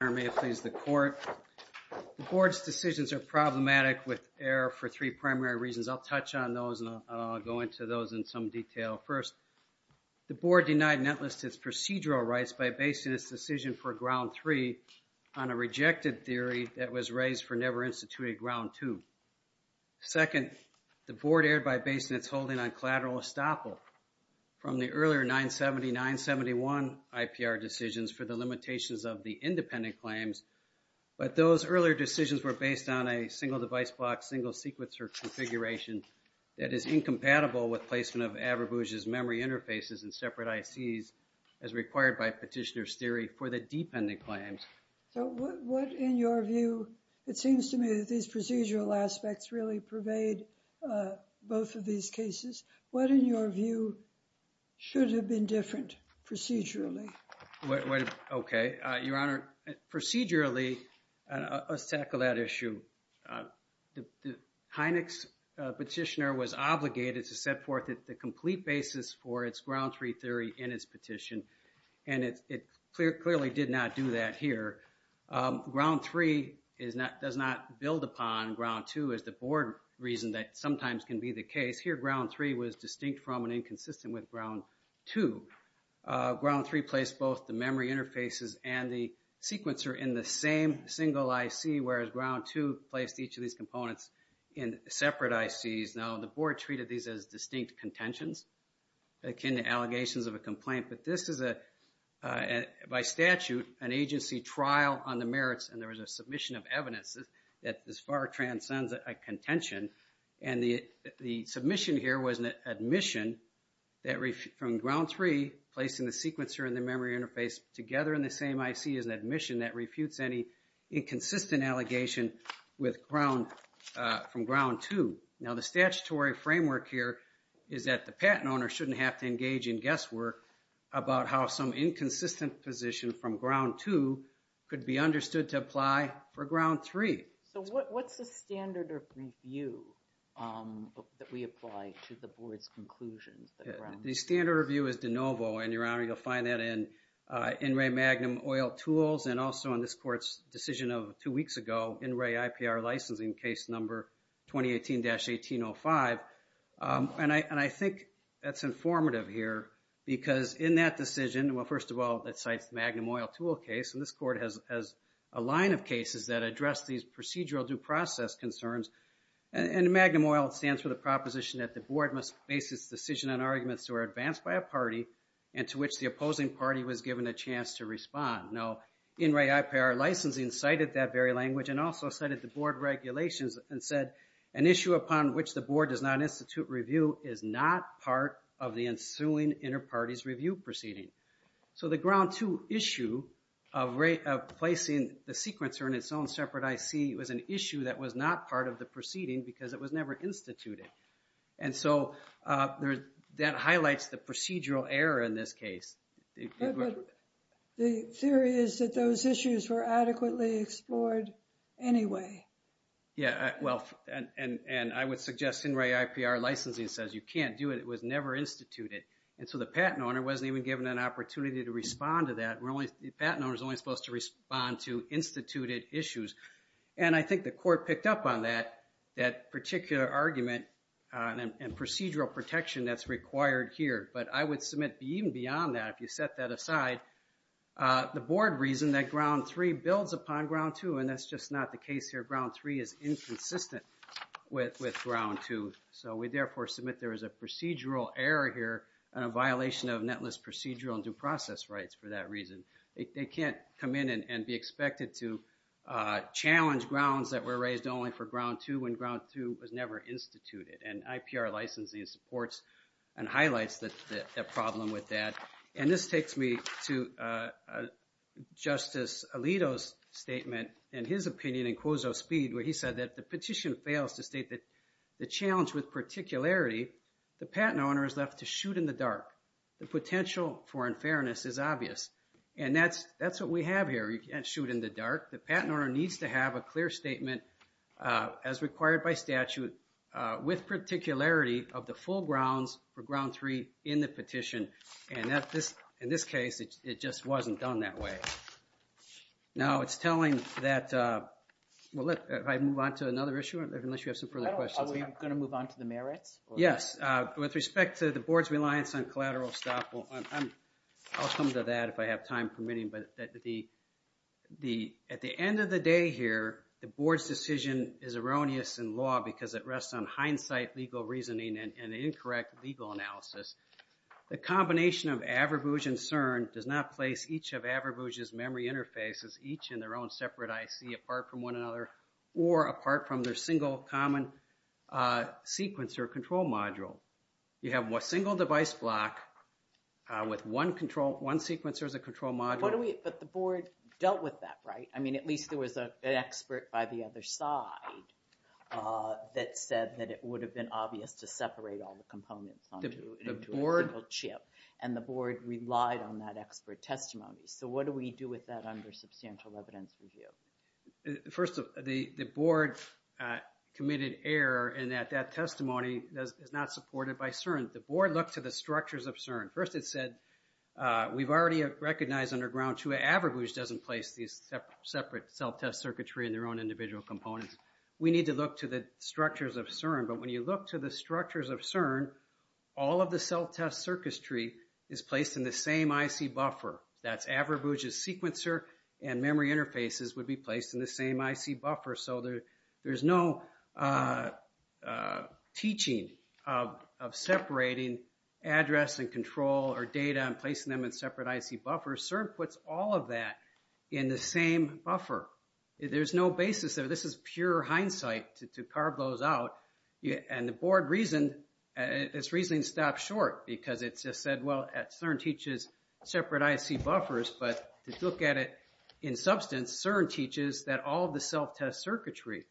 The Board's decisions are problematic with error for three primary reasons. I'll touch on those and I'll go into those in some detail. First, the Board denied Netlist its procedural rights by basing its decision for Ground 3 on a rejected theory that was raised for never instituting Ground 2. Second, the Board erred by basing its holding on collateral estoppel from the earlier 970-971 IPR decisions for the limitations of the independent claims. But those earlier decisions were based on a single device block, single sequencer configuration that is incompatible with placement of Averbooz's memory interfaces in separate ICs as required by petitioner's theory for the dependent claims. So what, in your view, it seems to me that these procedural aspects really pervade both of these cases. What, in your view, should have been different procedurally? Okay. Your Honor, procedurally, let's tackle that issue. The Hynix petitioner was obligated to set forth the complete basis for its Ground 3 theory in its petition. And it clearly did not do that here. Ground 3 does not build upon Ground 2 as the Board reason that sometimes can be the case. Here, Ground 3 was distinct from and inconsistent with Ground 2. Ground 3 placed both the memory interfaces and the sequencer in the same single IC, whereas Ground 2 placed each of these components in separate ICs. Now, the Board treated these as distinct contentions akin to allegations of a complaint. But this is, by statute, an agency trial on the merits. And there was a submission of evidence that this far transcends a contention. And the submission here was an admission from Ground 3, placing the sequencer and the memory interface together in the same IC, is an admission that refutes any inconsistent allegation from Ground 2. Now, the statutory framework here is that the patent owner shouldn't have to engage in guesswork about how some inconsistent position from Ground 2 could be understood to apply for Ground 3. So what's the standard of review that we apply to the Board's conclusions? The standard of review is de novo. And, Your Honor, you'll find that in NRA Magnum Oil Tools and also in this Court's decision of two weeks ago, NRA IPR licensing case number 2018-1805. And I think that's informative here because in that decision, well, first of all, it cites the Magnum Oil Tool case. And this Court has a line of cases that address these procedural due process concerns. And Magnum Oil stands for the proposition that the Board must base its decision on arguments that were advanced by a party and to which the opposing party was given a chance to respond. Now, NRA IPR licensing cited that very language and also cited the Board regulations and said, an issue upon which the Board does not institute review is not part of the ensuing inter-parties review proceeding. So the Ground 2 issue of placing the sequencer in its own separate IC was an issue that was not part of the proceeding because it was never instituted. And so that highlights the procedural error in this case. But the theory is that those issues were adequately explored anyway. Yeah, well, and I would suggest NRA IPR licensing says you can't do it. It was never instituted. And so the patent owner wasn't even given an opportunity to respond to that. The patent owner is only supposed to respond to instituted issues. And I think the Court picked up on that particular argument and procedural protection that's required here. But I would submit even beyond that, if you set that aside, the Board reasoned that Ground 3 builds upon Ground 2, and that's just not the case here. Ground 3 is inconsistent with Ground 2. So we, therefore, submit there is a procedural error here and a violation of netless procedural and due process rights for that reason. They can't come in and be expected to challenge grounds that were raised only for Ground 2 when Ground 2 was never instituted. And IPR licensing supports and highlights that problem with that. And this takes me to Justice Alito's statement and his opinion in Quozo Speed, where he said that the petition fails to state that the challenge with particularity, the patent owner is left to shoot in the dark. The potential for unfairness is obvious. And that's what we have here. You can't shoot in the dark. The patent owner needs to have a clear statement, as required by statute, with particularity of the full grounds for Ground 3 in the petition. And in this case, it just wasn't done that way. Now it's telling that, well, if I move on to another issue, unless you have some further questions. Are we going to move on to the merits? Yes. With respect to the Board's reliance on collateral estoppel, I'll come to that if I have time permitting, but at the end of the day here, the Board's decision is erroneous in law because it rests on hindsight, legal reasoning, and incorrect legal analysis. The combination of Averbooz and CERN does not place each of Averbooz's memory interfaces, each in their own separate IC apart from one another, or apart from their single common sequencer control module. You have a single device block with one sequencer as a control module. But the Board dealt with that, right? I mean, at least there was an expert by the other side that said that it would have been obvious to separate all the components onto a single chip. And the Board relied on that expert testimony. So what do we do with that under substantial evidence review? First, the Board committed error in that that testimony is not supported by CERN. The Board looked to the structures of CERN. First, it said, we've already recognized underground two. Averbooz doesn't place these separate self-test circuitry in their own individual components. We need to look to the structures of CERN. But when you look to the structures of CERN, all of the self-test circuitry is placed in the same IC buffer. That's Averbooz's sequencer and memory interfaces would be placed in the same IC buffer. So there's no teaching of separating address and control or data and placing them in separate IC buffers. CERN puts all of that in the same buffer. There's no basis there. This is pure hindsight to carve those out. And the Board reasoned, it's reasoning stopped short because it just said, well, CERN teaches separate IC buffers. But if you look at it in substance, CERN teaches that all of the self-test circuitry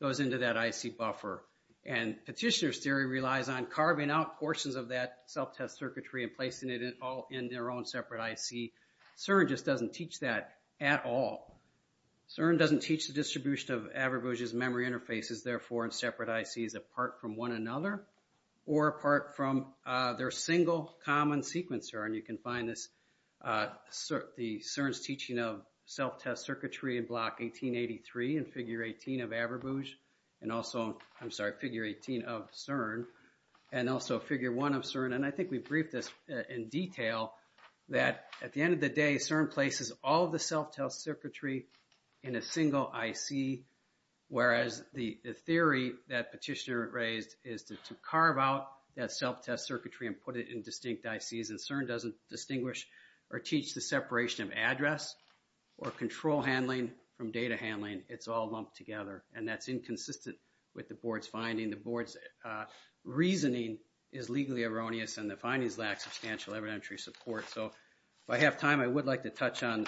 goes into that IC buffer. And petitioner's theory relies on carving out portions of that self-test circuitry and placing it all in their own separate IC. CERN just doesn't teach that at all. CERN doesn't teach the distribution of Averbooz's memory interfaces, therefore, in separate ICs apart from one another or apart from their single common sequencer. And you can find this, the CERN's teaching of self-test circuitry in Block 1883 and Figure 18 of Averbooz. And also, I'm sorry, Figure 18 of CERN and also Figure 1 of CERN. And I think we briefed this in detail that at the end of the day, CERN places all of the self-test circuitry in a single IC, whereas the theory that petitioner raised is to carve out that self-test circuitry and put it in distinct ICs. And CERN doesn't distinguish or teach the separation of address or control handling from data handling. It's all lumped together. And that's inconsistent with the Board's finding. The Board's reasoning is legally erroneous and the findings lack substantial evidentiary support. So if I have time, I would like to touch on,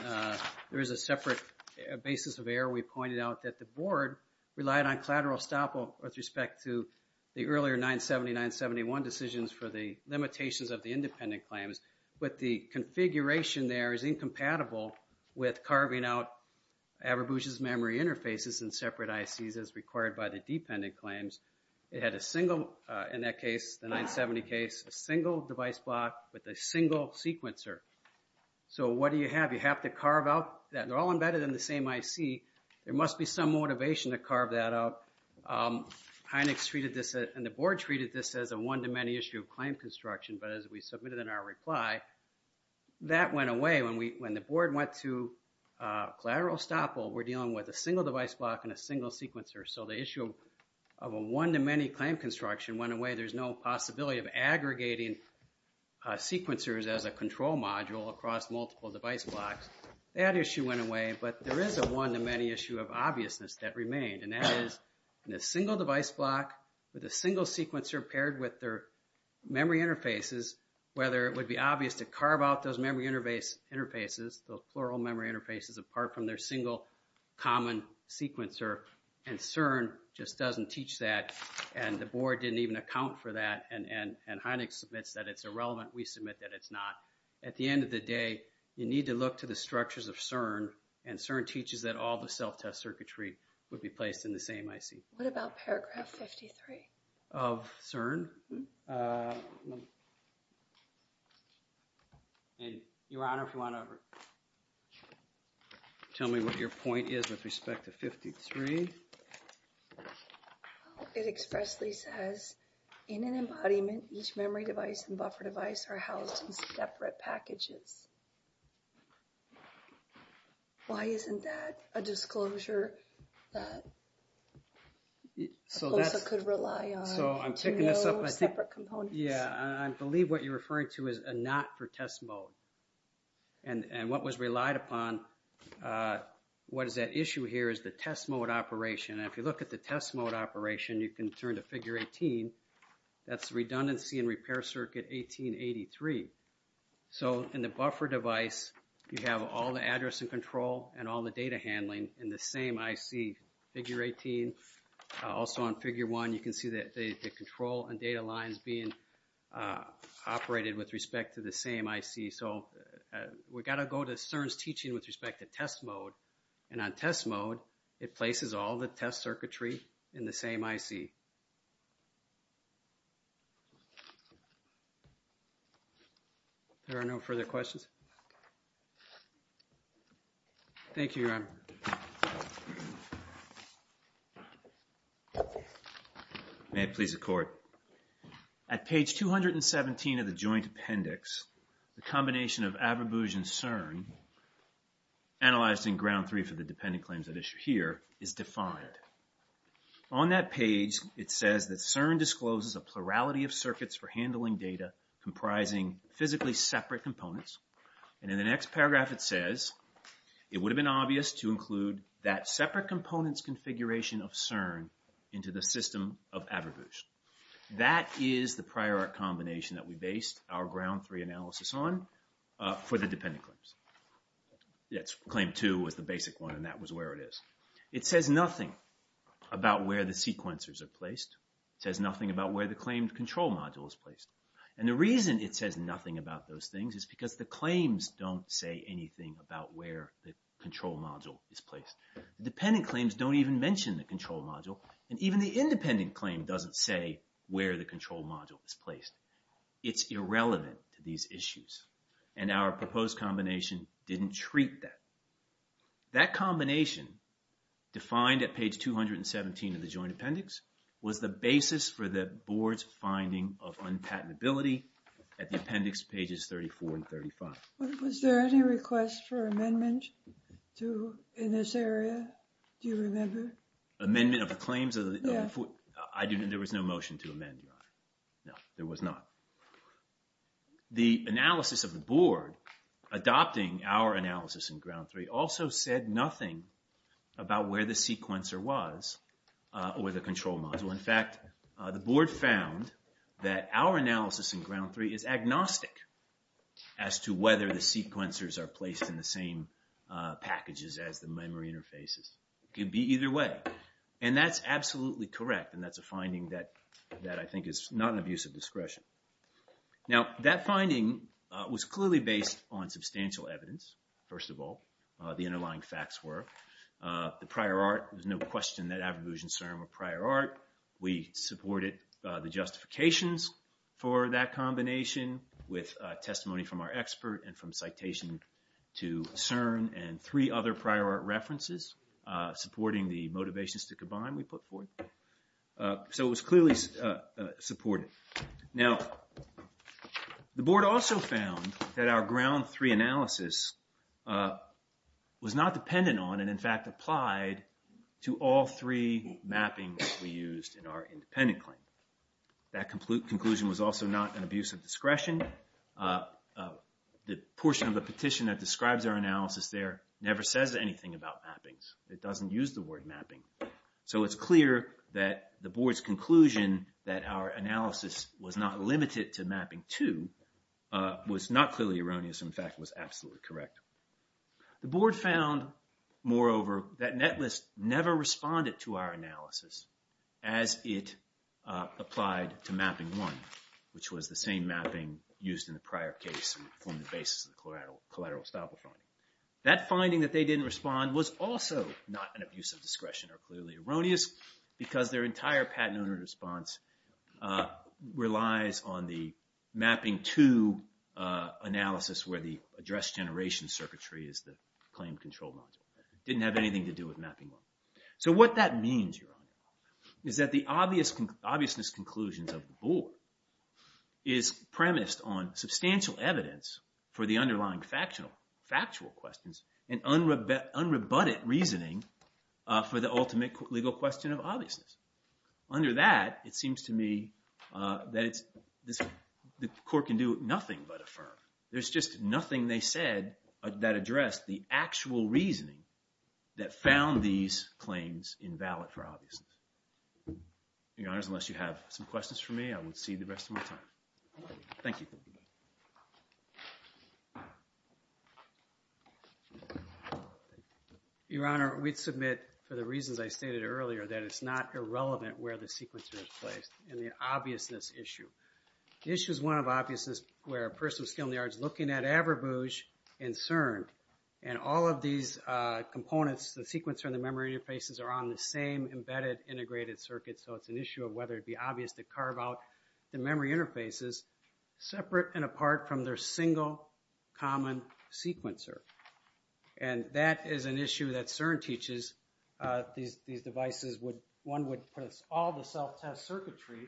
there is a separate basis of error. We pointed out that the Board relied on collateral estoppel with respect to the earlier 979-71 decisions for the limitations of the independent claims. But the configuration there is incompatible with carving out Averbooz's memory interfaces in separate ICs as required by the dependent claims. It had a single, in that case, the 970 case, a single device block with a single sequencer. So what do you have? You have to carve out that. They're all embedded in the same IC. There must be some motivation to carve that out. Hynex treated this and the Board treated this as a one-to-many issue of claim construction. But as we submitted in our reply, that went away. When the Board went to collateral estoppel, we're dealing with a single device block and a single sequencer. So the issue of a one-to-many claim construction went away. There's no possibility of aggregating sequencers as a control module across multiple device blocks. That issue went away, but there is a one-to-many issue of obviousness that remained, and that is in a single device block with a single sequencer paired with their memory interfaces, whether it would be obvious to carve out those memory interfaces, those plural memory interfaces, apart from their single common sequencer. And CERN just doesn't teach that, and the Board didn't even account for that, and Hynex submits that it's irrelevant. We submit that it's not. At the end of the day, you need to look to the structures of CERN, and CERN teaches that all the self-test circuitry would be placed in the same IC. What about paragraph 53? Of CERN? Your Honor, if you want to tell me what your point is with respect to 53. It expressly says, in an embodiment, each memory device and buffer device are housed in separate packages. Why isn't that a disclosure that COSA could rely on to know separate components? Yeah, I believe what you're referring to is a not for test mode. And what was relied upon, what is at issue here, is the test mode operation. And if you look at the test mode operation, you can turn to figure 18, that's redundancy and repair circuit 1883. So, in the buffer device, you have all the address and control and all the data handling in the same IC. Figure 18, also on figure 1, you can see that the control and data lines being operated with respect to the same IC. So, we've got to go to CERN's teaching with respect to test mode, and on test mode, it places all the test circuitry in the same IC. There are no further questions? Thank you, Your Honor. May it please the Court. At page 217 of the joint appendix, the combination of Averbooz and CERN, analyzed in ground three for the dependent claims at issue here, is defined. On that page, it says that CERN discloses a plurality of circuits for handling data comprising physically separate components. And in the next paragraph, it says, it would have been obvious to include that separate components configuration of CERN into the system of Averbooz. That is the prior art combination that we based our ground three analysis on for the dependent claims. Claim two was the basic one, and that was where it is. It says nothing about where the sequencers are placed. It says nothing about where the claimed control module is placed. And the reason it says nothing about those things is because the claims don't say anything about where the control module is placed. The dependent claims don't even mention the control module, and even the independent claim doesn't say where the control module is placed. It's irrelevant to these issues, and our proposed combination didn't treat that. That combination, defined at page 217 of the joint appendix, was the basis for the board's finding of unpatentability at the appendix pages 34 and 35. Was there any request for amendment in this area? Do you remember? Amendment of the claims? There was no motion to amend, Your Honor. No, there was not. The analysis of the board, adopting our analysis in ground three, also said nothing about where the sequencer was or the control module. In fact, the board found that our analysis in ground three is agnostic as to whether the sequencers are placed in the same packages as the memory interfaces. It could be either way, and that's absolutely correct, and that's a finding that I think is not an abuse of discretion. Now, that finding was clearly based on substantial evidence, first of all. The underlying facts were. The prior art, there's no question that Averbooz and CERN were prior art. We supported the justifications for that combination with testimony from our expert and from citation to CERN and three other prior art references, supporting the motivations to combine we put forth. So it was clearly supported. Now, the board also found that our ground three analysis was not dependent on and, in fact, applied to all three mappings we used in our independent claim. The portion of the petition that describes our analysis there never says anything about mappings. It doesn't use the word mapping. So it's clear that the board's conclusion that our analysis was not limited to mapping two was not clearly erroneous. In fact, it was absolutely correct. The board found, moreover, that Netlist never responded to our analysis as it applied to mapping one, which was the same mapping used in the prior case and formed the basis of the collateral estoppel finding. That finding that they didn't respond was also not an abuse of discretion or clearly erroneous because their entire patent owner response relies on the mapping two analysis where the address generation circuitry is the claim control module. It didn't have anything to do with mapping one. So what that means, Your Honor, is that the obviousness conclusions of the board is premised on substantial evidence for the underlying factual questions and unrebutted reasoning for the ultimate legal question of obviousness. Under that, it seems to me that the court can do nothing but affirm. There's just nothing they said that addressed the actual reasoning that found these claims invalid for obviousness. Your Honor, unless you have some questions for me, I will cede the rest of my time. Thank you. Your Honor, we submit, for the reasons I stated earlier, that it's not irrelevant where the sequence is placed in the obviousness issue. The issue is one of obviousness where a person with skill in the arts looking at Averbouge and CERN and all of these components, the sequencer and the memory interfaces, are on the same embedded integrated circuit. So it's an issue of whether it would be obvious to carve out the memory interfaces separate and apart from their single common sequencer. And that is an issue that CERN teaches. These devices would, one would put all the self-test circuitry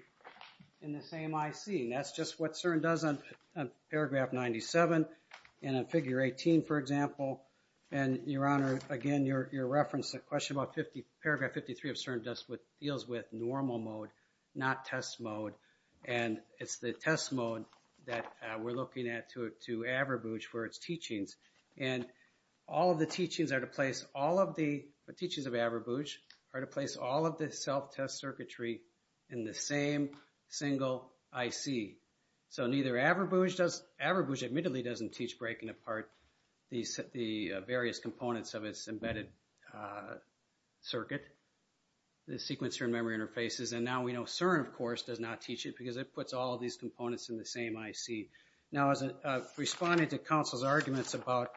in the same IC. And that's just what CERN does on paragraph 97 and on figure 18, for example. And, Your Honor, again, your reference, the question about paragraph 53 of CERN deals with normal mode, not test mode. And it's the test mode that we're looking at to Averbouge for its teachings. And all of the teachings are to place all of the, the teachings of Averbouge, are to place all of the self-test circuitry in the same single IC. So neither Averbouge does, Averbouge admittedly doesn't teach breaking apart the various components of its embedded circuit, the sequencer and memory interfaces. And now we know CERN, of course, does not teach it because it puts all these components in the same IC. Now, responding to counsel's arguments about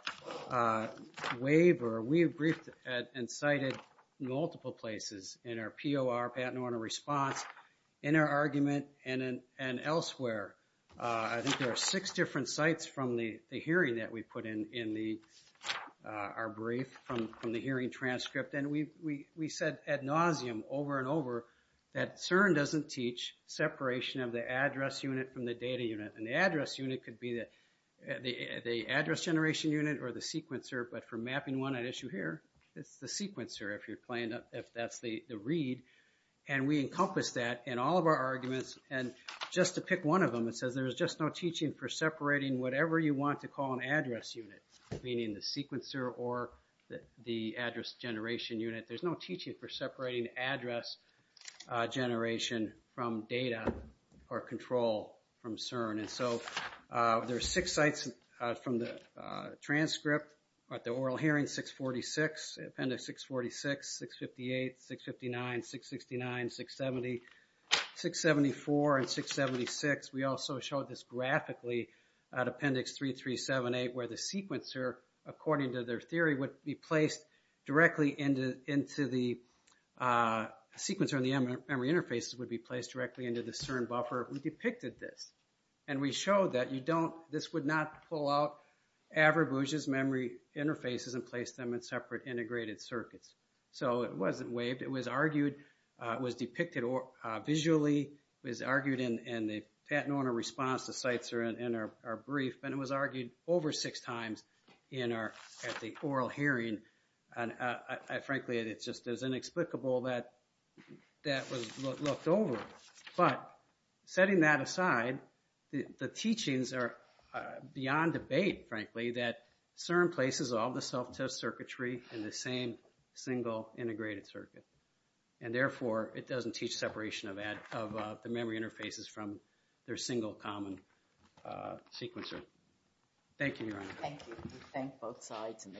waiver, we briefed and cited multiple places in our POR, patent order response, in our argument and elsewhere. I think there are six different sites from the hearing that we put in our brief from the hearing transcript. And we said ad nauseum over and over that CERN doesn't teach separation of the address unit from the data unit. And the address unit could be the address generation unit or the sequencer. But for mapping one at issue here, it's the sequencer if you're playing, if that's the read. And we encompass that in all of our arguments. And just to pick one of them, it says there's just no teaching for separating whatever you want to call an address unit, meaning the sequencer or the address generation unit. There's no teaching for separating address generation from data or control from CERN. And so there are six sites from the transcript at the oral hearing, 646, appendix 646, 658, 659, 669, 670, 674, and 676. We also showed this graphically at appendix 3378 where the sequencer, according to their theory, would be placed directly into the sequencer and the memory interfaces would be placed directly into the CERN buffer. We depicted this. And we showed that you don't, this would not pull out Averbooz's memory interfaces and place them in separate integrated circuits. So it wasn't waived. It was argued, was depicted visually, was argued in the patent owner response to sites in our brief, and it was argued over six times at the oral hearing. And frankly, it's just as inexplicable that that was looked over. But setting that aside, the teachings are beyond debate, frankly, that CERN places all the self-test circuitry in the same single integrated circuit. And therefore, it doesn't teach separation of the memory interfaces from their single common sequencer. Thank you, Your Honor. Thank you. We thank both sides, and the case is submitted.